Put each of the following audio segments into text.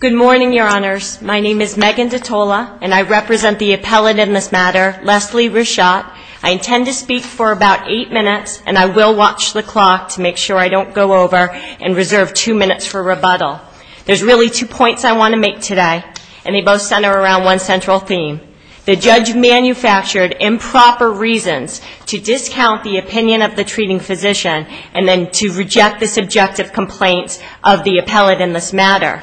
Good morning, Your Honors. My name is Megan Detola, and I represent the appellate in this matter, Leslie Ritchotte. I intend to speak for about eight minutes, and I will watch the clock to make sure I don't go over and reserve two minutes for rebuttal. There's really two points I want to make today, and they both center around one central theme. The judge manufactured improper reasons to discount the opinion of the treating physician and then to reject the subjective complaints of the appellate in this matter.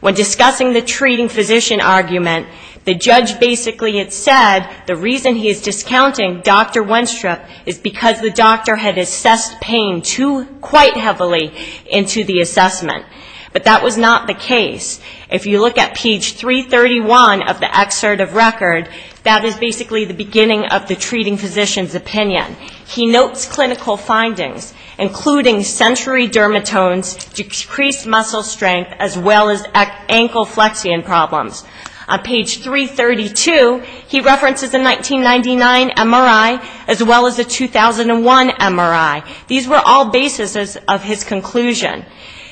When discussing the treating physician argument, the judge basically had said the reason he is discounting Dr. Wenstrup is because the doctor had assessed pain too quite heavily into the assessment. But that was not the case. If you look at page 331 of the excerpt of record, that is basically the beginning of the treating physician's opinion. He notes clinical findings, including sensory dermatones, decreased muscle strength, and a lack of physical activity. He also noted a lack of physical fitness, as well as ankle flexion problems. On page 332, he references a 1999 MRI, as well as a 2001 MRI. These were all basis of his conclusion.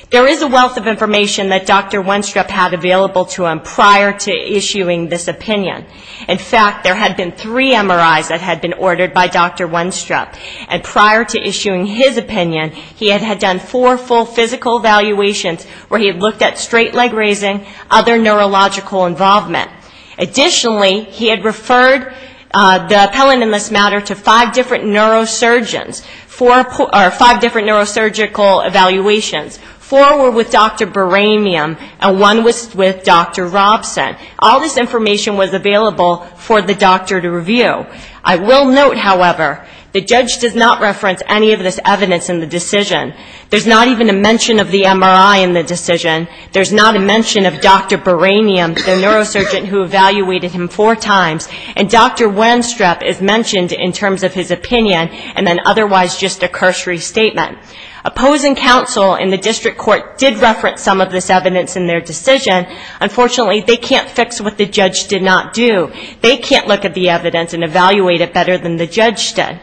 There is a wealth of information that Dr. Wenstrup had available to him prior to issuing this opinion. In fact, there had been three MRIs that had been ordered by Dr. Wenstrup, and prior to issuing his opinion, he had done four full physical evaluations, where he had looked at the patient's physical condition. He had looked at straight leg raising, other neurological involvement. Additionally, he had referred the appellant in this matter to five different neurosurgeons, or five different neurosurgical evaluations. Four were with Dr. Boramium, and one was with Dr. Robson. All this information was available for the doctor to review. I will note, however, the judge does not reference any of this evidence in the decision. There's not even a mention of the MRI in the decision. There's not a mention of Dr. Boramium, the neurosurgeon who evaluated him four times. And Dr. Wenstrup is mentioned in terms of his opinion, and then otherwise just a cursory statement. Opposing counsel in the district court did reference some of this evidence in their decision. Unfortunately, they can't fix what the judge did not do. They can't look at the evidence and evaluate it better than the judge did.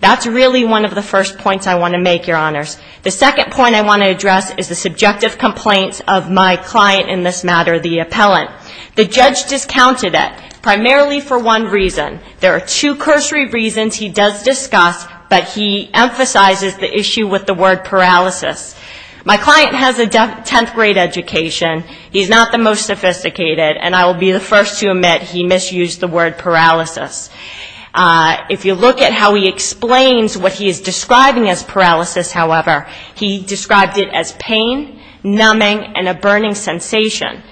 That's really one of the first points I want to make, Your Honors. The second point I want to address is the subjective complaints of my client in this matter, the appellant. The judge discounted it, primarily for one reason. There are two cursory reasons he does discuss, but he emphasizes the issue with the word paralysis. My client has a 10th grade education. He's not the most sophisticated, and I will be the first to admit he misused the word paralysis. If you look at how he explains what he is describing as paralysis, however, he described it as pain, numbing, and a burning sensation.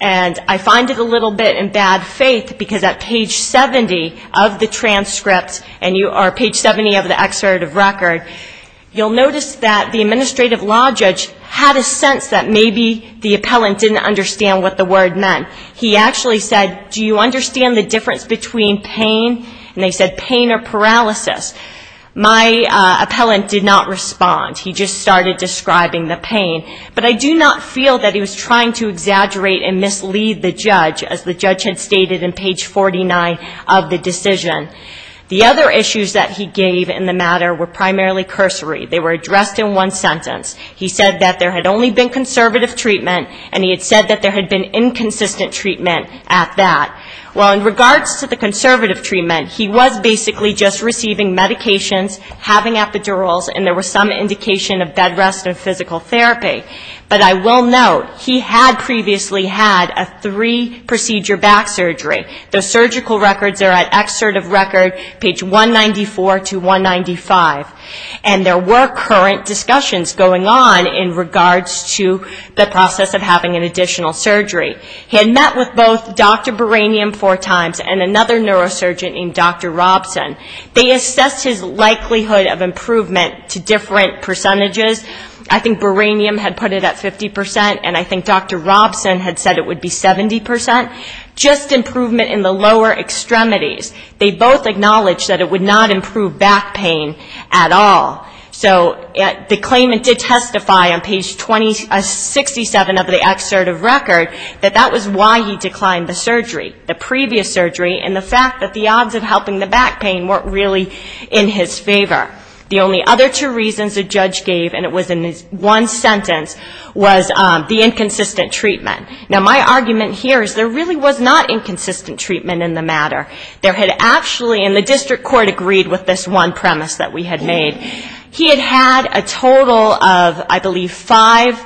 And I find it a little bit in bad faith, because at page 70 of the transcript, or page 70 of the excerpt of record, you'll notice that the administrative law judge had a sense that maybe the appellant didn't understand what the word meant. He actually said, do you understand the difference between pain, and they said pain or paralysis. My appellant did not respond. He just started describing the pain. But I do not feel that he was trying to exaggerate and mislead the judge, as the judge had stated in page 49 of the decision. The other issues that he gave in the matter were primarily cursory. They were addressed in one sentence. He said that there had only been conservative treatment, and he had said that there had been inconsistent treatment at that. Well, in regards to the conservative treatment, he was basically just receiving medications, having epidurals, and there was some indication of bed rest and physical therapy. But I will note, he had previously had a three-procedure back surgery. The surgical records are at excerpt of record, page 194 to 195. And there were current discussions going on in regards to the process of having an additional surgery. He had met with both Dr. Buranium four times and another neurosurgeon named Dr. Robson. They assessed his likelihood of improvement to different percentages. I think Buranium had put it at 50 percent, and I think Dr. Robson had said it would be 70 percent. Just improvement in the lower extremities. They both acknowledged that it would not improve back pain at all. So the claimant did testify on page 67 of the excerpt of record that that was why he declined the surgery, the previous surgery, and the fact that the odds of helping the back pain weren't really in his favor. The only other two reasons the judge gave, and it was in one sentence, was the inconsistent treatment. Now, my argument here is there really was not inconsistent treatment in the matter. There had actually, and the district court agreed with this one premise that we had made. He had had a total of, I believe, five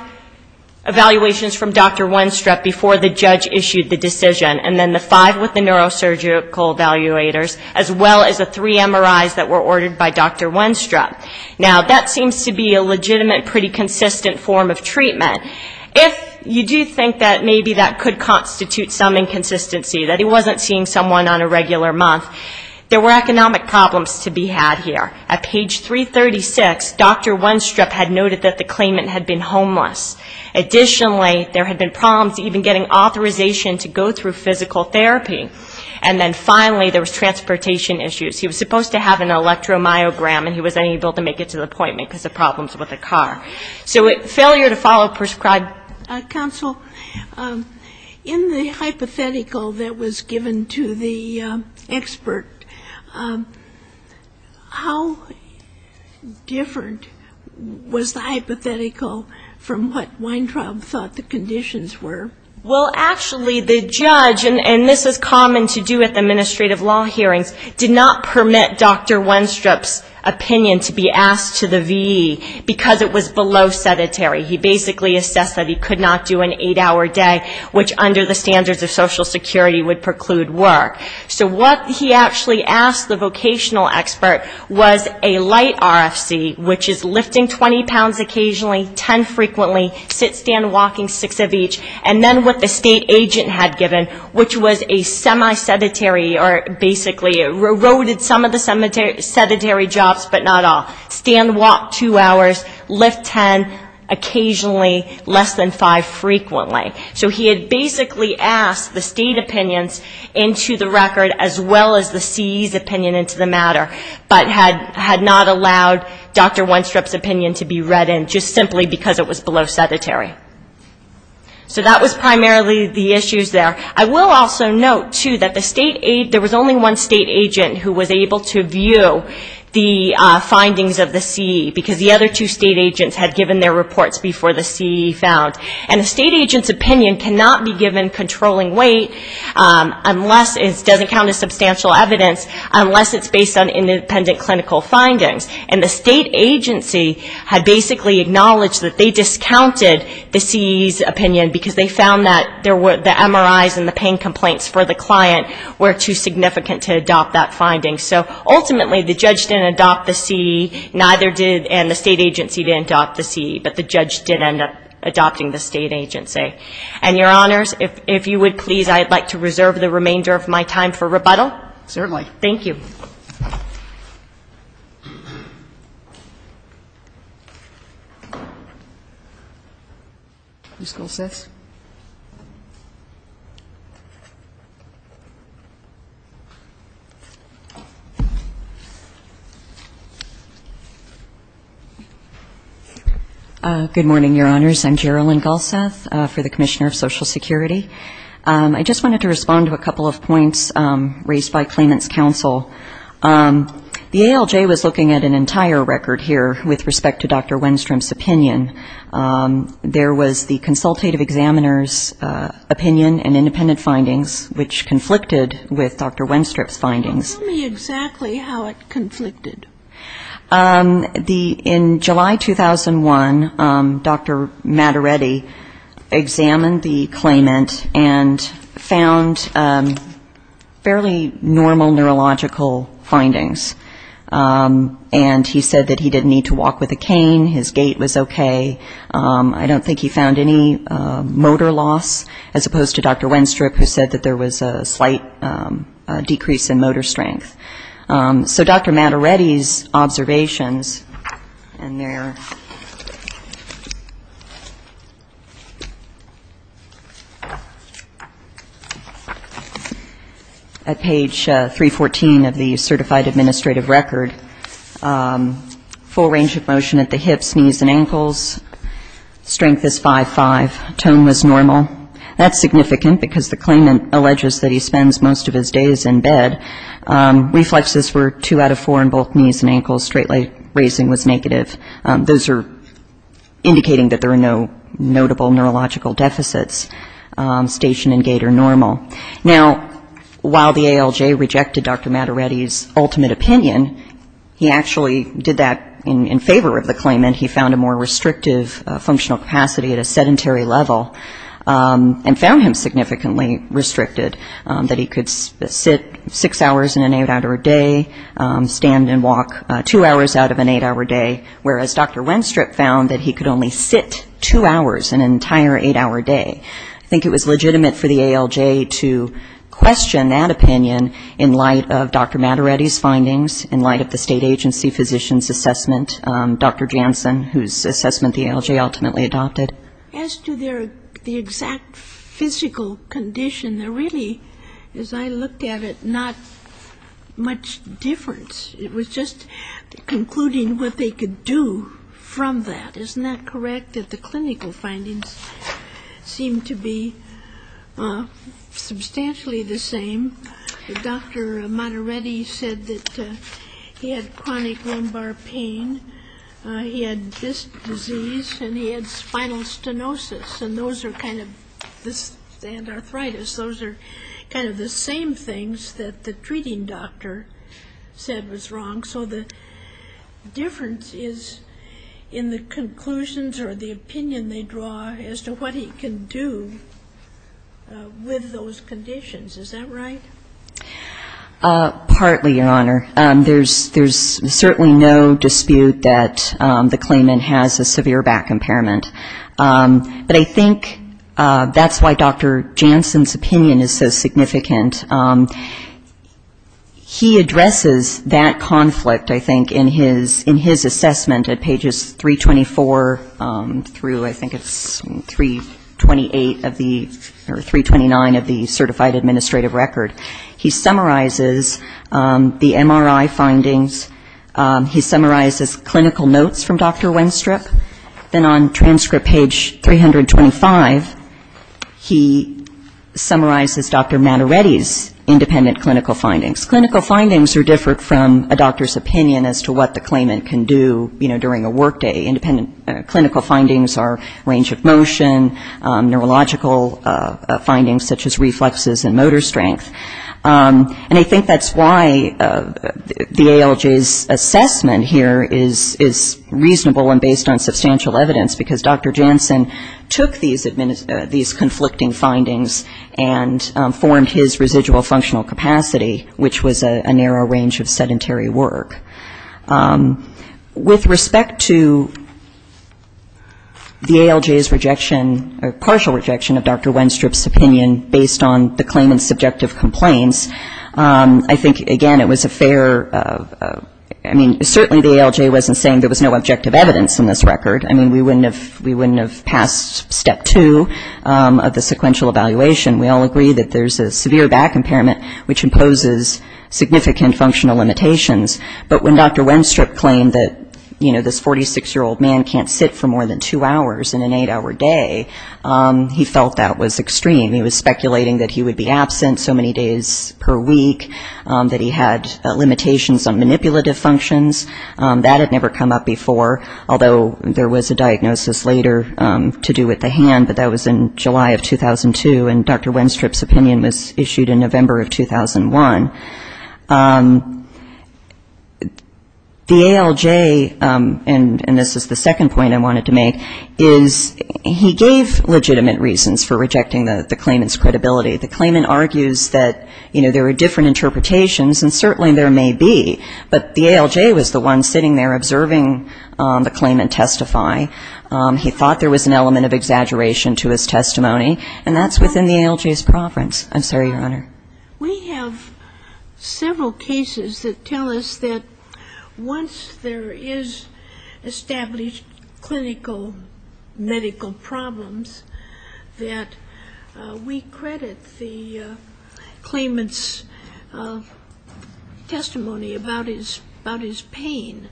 evaluations from Dr. Wenstrup before the judge issued the decision, and then the five with the neurosurgical evaluators, as well as the three MRIs that were ordered by Dr. Wenstrup. Now, that seems to be a legitimate, pretty consistent form of treatment. If you do think that maybe that could constitute some inconsistency, that he wasn't seeing someone on a regular month, there were economic problems to be had here. At page 336, Dr. Wenstrup had noted that the claimant had been homeless. Additionally, there had been problems even getting authorization to go through physical therapy. And then finally, there was transportation issues. He was supposed to have an electromyogram, and he wasn't able to make it to the appointment because of problems with a car. So failure to follow prescribed... Counsel, in the hypothetical that was given to the expert, how different was the hypothetical from what Weintraub thought the conditions were? Well, actually, the judge, and this is common to do at the administrative law hearings, did not provide the hypothetical. It did not permit Dr. Wenstrup's opinion to be asked to the VE, because it was below sedentary. He basically assessed that he could not do an eight-hour day, which under the standards of Social Security would preclude work. So what he actually asked the vocational expert was a light RFC, which is lifting 20 pounds occasionally, 10 frequently, sit, stand, walking, six of each. And then what the state agent had given, which was a semi-sedentary, or basically a roted semi-sedentary. Some of the sedentary jobs, but not all. Stand, walk two hours, lift 10, occasionally, less than five frequently. So he had basically asked the state opinions into the record, as well as the CE's opinion into the matter, but had not allowed Dr. Wenstrup's opinion to be read in, just simply because it was below sedentary. So that was primarily the issues there. So the state agent was not able to view the findings of the CE, because the other two state agents had given their reports before the CE found. And the state agent's opinion cannot be given controlling weight, unless it doesn't count as substantial evidence, unless it's based on independent clinical findings. And the state agency had basically acknowledged that they discounted the CE's opinion, because they found that the MRIs and the pain complaints for the client were too significant to adopt that finding. So ultimately, the judge didn't adopt the CE, neither did, and the state agency didn't adopt the CE, but the judge did end up adopting the state agency. And, Your Honors, if you would please, I'd like to reserve the remainder of my time for rebuttal. Thank you. Good morning, Your Honors. I'm Gerilyn Galseth for the Commissioner of Social Security. I just wanted to respond to a couple of points raised by claimants' counsel. The ALJ was looking at an entire record here with respect to Dr. Wenstrup's opinion. There was the consultative examiner's opinion and independent findings, which conflicted with Dr. Wenstrup's findings. Tell me exactly how it conflicted. In July 2001, Dr. Mattaretti examined the claimant and found fairly normal neurological findings. And he said that he didn't need to walk with a cane, his gait was okay. I don't think he found any motor loss, as opposed to Dr. Wenstrup, who said that there was a slight decrease in motor strength. So Dr. Mattaretti's observations, and they're at page 314 of the Certified Administrative Record, full range of motion at the hips, knees and ankles, strength is 5'5", tone was normal. That's significant, because the claimant alleges that he spends most of his days in bed. Reflexes were two out of four in both knees and ankles, straight leg raising was negative. Those are indicating that there are no notable neurological deficits. Station and gait are normal. Now, while the ALJ rejected Dr. Mattaretti's ultimate opinion, he actually did that in favor of the claimant. He found a more restrictive functional capacity at a sedentary level, and found him significantly restricted, that he could sit six hours in an eight-hour day, stand and walk two hours out of an eight-hour day, whereas Dr. Wenstrup found that he could only sit two hours in an entire eight-hour day. I think it was legitimate for the ALJ to question that opinion in light of Dr. Mattaretti's findings, in light of the state agency physician's assessment, Dr. Janssen, whose assessment the ALJ ultimately adopted. As to the exact physical condition, there really, as I looked at it, not much difference. It was just concluding what they could do from that. Isn't that correct, that the clinical findings seem to be substantially the same? Dr. Mattaretti said that he had chronic lumbar pain, he had this disease, and he had spinal stenosis, and arthritis. Those are kind of the same things that the treating doctor said was wrong. So the difference is in the conclusions or the opinion they draw as to what he can do with those conditions. Is that right? Partly, Your Honor. There's certainly no dispute that the claimant has a severe back impairment. But I think that's why Dr. Janssen's opinion is so significant. He addresses that conflict, I think, in his assessment at pages 324 through I think it's 328 of the or 329 of the Certified Administrative Record. He summarizes the MRI findings. He summarizes clinical notes from Dr. Wenstrup. Then on transcript page 325, he summarizes Dr. Mattaretti's independent clinical findings. Clinical findings are different from a doctor's opinion as to what the claimant can do during a workday. Independent clinical findings are range of motion, neurological findings such as reflexes and motor strength. And I think that's why the ALJ's assessment here is reasonable and based on substantial evidence, because Dr. Janssen took these conflicting findings and formed his residual functional capacity, which was a narrow range of sedentary work. With respect to the ALJ's rejection or partial rejection of Dr. Wenstrup's opinion based on the claimant's subjective complaints, I think, again, it was a fair, I mean, certainly the ALJ wasn't saying there was no objective evidence in this record. I mean, we wouldn't have passed step two of the sequential evaluation. We all agree that there's a severe back impairment, which imposes significant functional limitations. But when Dr. Wenstrup claimed that, you know, this 46-year-old man can't sit for more than two hours in an eight-hour day, he felt that was extreme. He was speculating that he would be absent so many days per week, that he had limitations on manipulative functions. That had never come up before, although there was a diagnosis later to do with the hand, but that was in July of 2002. Dr. Wenstrup's opinion was issued in November of 2001. The ALJ, and this is the second point I wanted to make, is he gave legitimate reasons for rejecting the claimant's credibility. The claimant argues that, you know, there are different interpretations, and certainly there may be, but the ALJ was the one sitting there observing the claimant testify. He thought there was an element of exaggeration to his testimony, and that's within the ALJ's preference. I'm sorry, Your Honor. We have several cases that tell us that once there is established clinical medical problems, that we credit the claimant's testimony about his pain.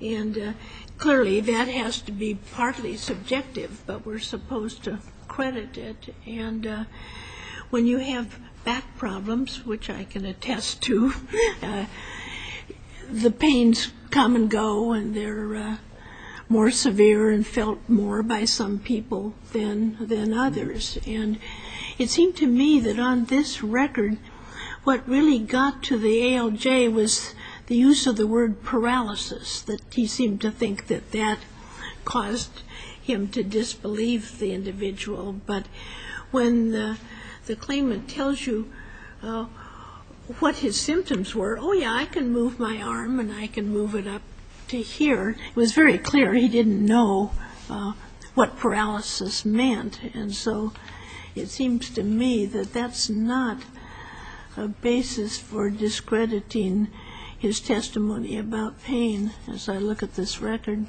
And clearly that has to be partly subjective, but we're supposed to credit it. And when you have back problems, which I can attest to, the pains come and go, and they're more severe and felt more by some people than others. And it seemed to me that on this record, what really got to the ALJ was the use of the word paralysis. That he seemed to think that that caused him to disbelieve the individual. But when the claimant tells you what his symptoms were, oh, yeah, I can move my arm and I can move it up to here. It was very clear he didn't know what paralysis meant. And so it seems to me that that's not a basis for discrediting his testimony about pain. As I look at this record.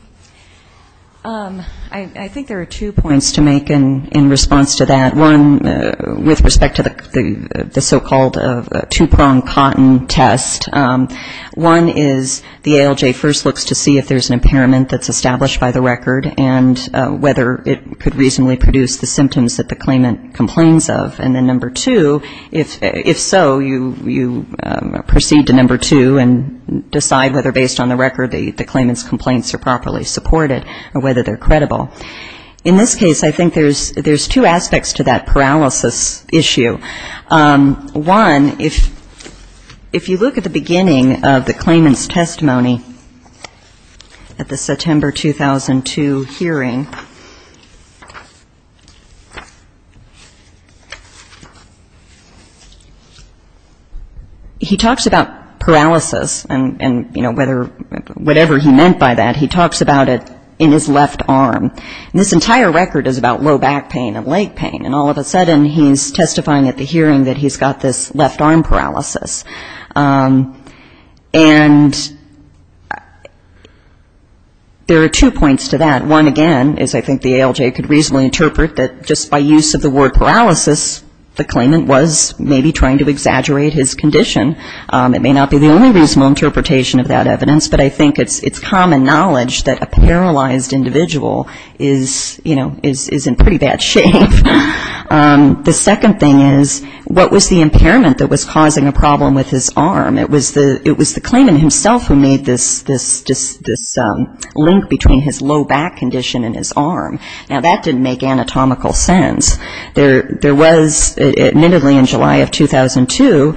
I think there are two points to make in response to that. One, with respect to the so-called two-pronged cotton test. One is the ALJ first looks to see if there's an impairment that's established by the record, and whether it could reasonably produce the symptoms that the claimant complains of. And then number two, if so, you proceed to number two and decide whether on the record the claimant's complaints are properly supported or whether they're credible. In this case, I think there's two aspects to that paralysis issue. One, if you look at the beginning of the claimant's testimony at the September 2002 hearing. He talks about paralysis and, you know, whatever he meant by that. He talks about it in his left arm. And this entire record is about low back pain and leg pain. And all of a sudden he's testifying at the hearing that he's got this left arm paralysis. And there are two points to that. One, again, is I think the ALJ could reasonably interpret that just by use of the word paralysis, the claimant was maybe trying to exaggerate his condition. It may not be the only reasonable interpretation of that evidence, but I think it's common knowledge that a paralyzed individual is, you know, is in pretty bad shape. The second thing is, what was the impairment that was causing a problem with his arm? It was the claimant himself who made this link between his low back condition and his arm. Now, that didn't make anatomical sense. There was, admittedly in July of 2002,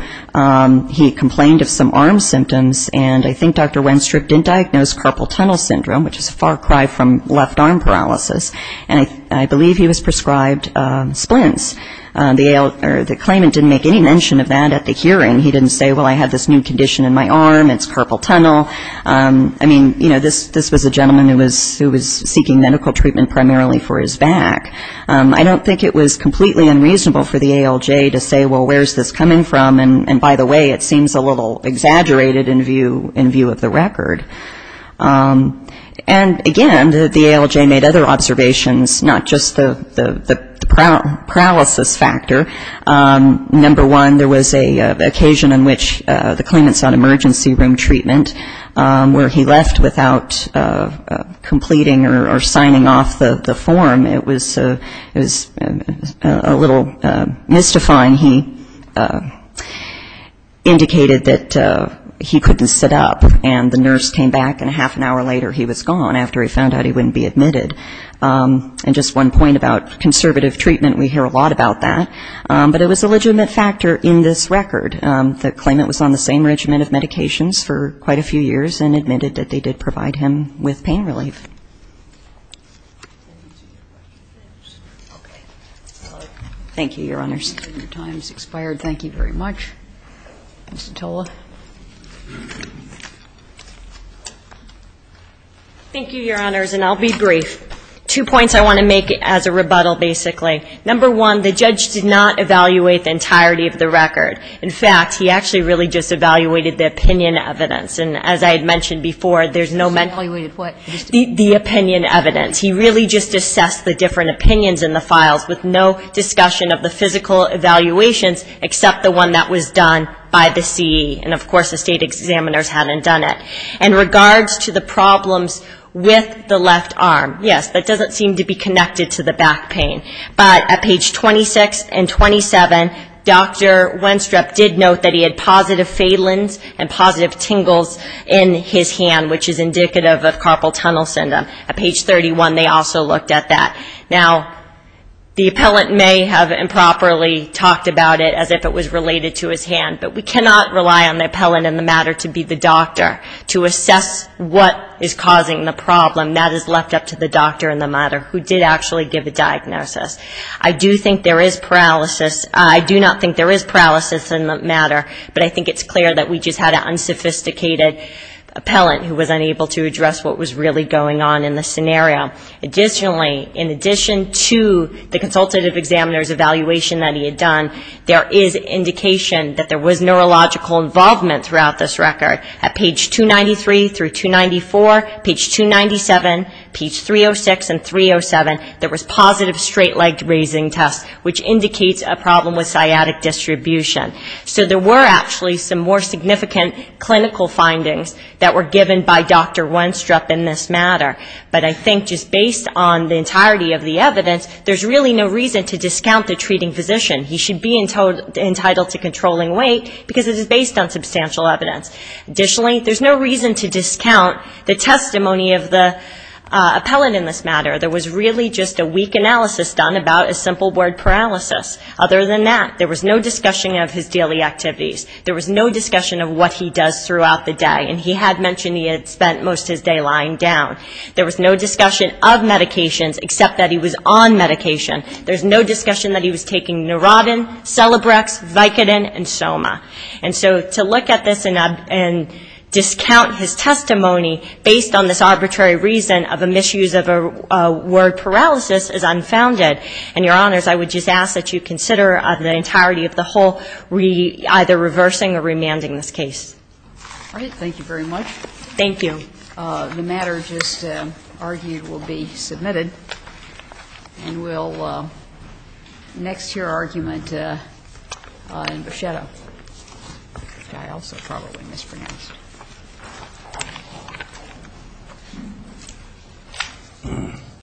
he complained of some arm symptoms, and I think Dr. Wenstrup didn't diagnose carpal tunnel syndrome, which is a far cry from left arm paralysis. And I believe he was prescribed splints. The claimant didn't make any mention of that at the hearing. He didn't say, well, I have this new condition in my arm, it's carpal tunnel. I mean, you know, this was a gentleman who was seeking medical treatment primarily for his back. I don't think it was completely unreasonable for the ALJ to say, well, where's this coming from? And by the way, it seems a little exaggerated in view of the record. And again, the ALJ made other observations, not just the paralysis factor. Number one, there was an occasion in which the claimant's on emergency room treatment, where he left without completing or signing off the form. It was a little mystifying. He indicated that he couldn't sit up, and the nurse came back, and a half an hour later he was gone, after he found out he wouldn't be admitted. And just one point about conservative treatment, we hear a lot about that. But it was a legitimate factor in this record. The claimant was on the same regimen of medications for quite a few years and admitted that they did provide him with pain relief. Thank you, Your Honors. Your time has expired. Thank you very much. Ms. Sotola. Thank you, Your Honors, and I'll be brief. Two points I want to make as a rebuttal, basically. Number one, the judge did not evaluate the entirety of the record. In fact, he actually really just evaluated the opinion evidence. And as I had mentioned before, there's no mention of the opinion evidence. He really just assessed the different opinions in the files, with no discussion of the physical evaluations, except the one that was done by the CE. And of course the state examiners hadn't done it. In regards to the problems with the left arm, yes, that doesn't seem to be connected to the back pain. But at page 26 and 27, Dr. Wenstrup did note that he had positive phalans and positive tingles in his hand, which is indicative of carpal tunnel syndrome. At page 31, they also looked at that. Now, the appellant may have improperly talked about it as if it was related to his hand, but we cannot rely on the appellant in the diagnosis. I do think there is paralysis. I do not think there is paralysis in the matter, but I think it's clear that we just had an unsophisticated appellant who was unable to address what was really going on in the scenario. Additionally, in addition to the consultative examiner's evaluation that he had done, there is indication that there was neurological involvement throughout this record. At page 293 through 294, page 297, page 306 and 307, there was positive straight-legged raising test, which indicates a problem with sciatic distribution. So there were actually some more significant clinical findings that were given by Dr. Wenstrup in this matter. But I think just based on the entirety of the evidence, there's really no reason to discount the treating physician. He should be entitled to controlling weight, because it is based on substantial evidence. Additionally, there's no reason to discount the testimony of the appellant in this matter. There was really just a weak analysis done about a simple word paralysis. Other than that, there was no discussion of his daily activities. There was no discussion of what he does throughout the day, and he had mentioned he had spent most of his day lying down. There was no discussion of sodden, celebrex, vicodin, and soma. And so to look at this and discount his testimony based on this arbitrary reason of a misuse of a word paralysis is unfounded. And, Your Honors, I would just ask that you consider the entirety of the whole either reversing or remanding this case. Thank you very much. Thank you.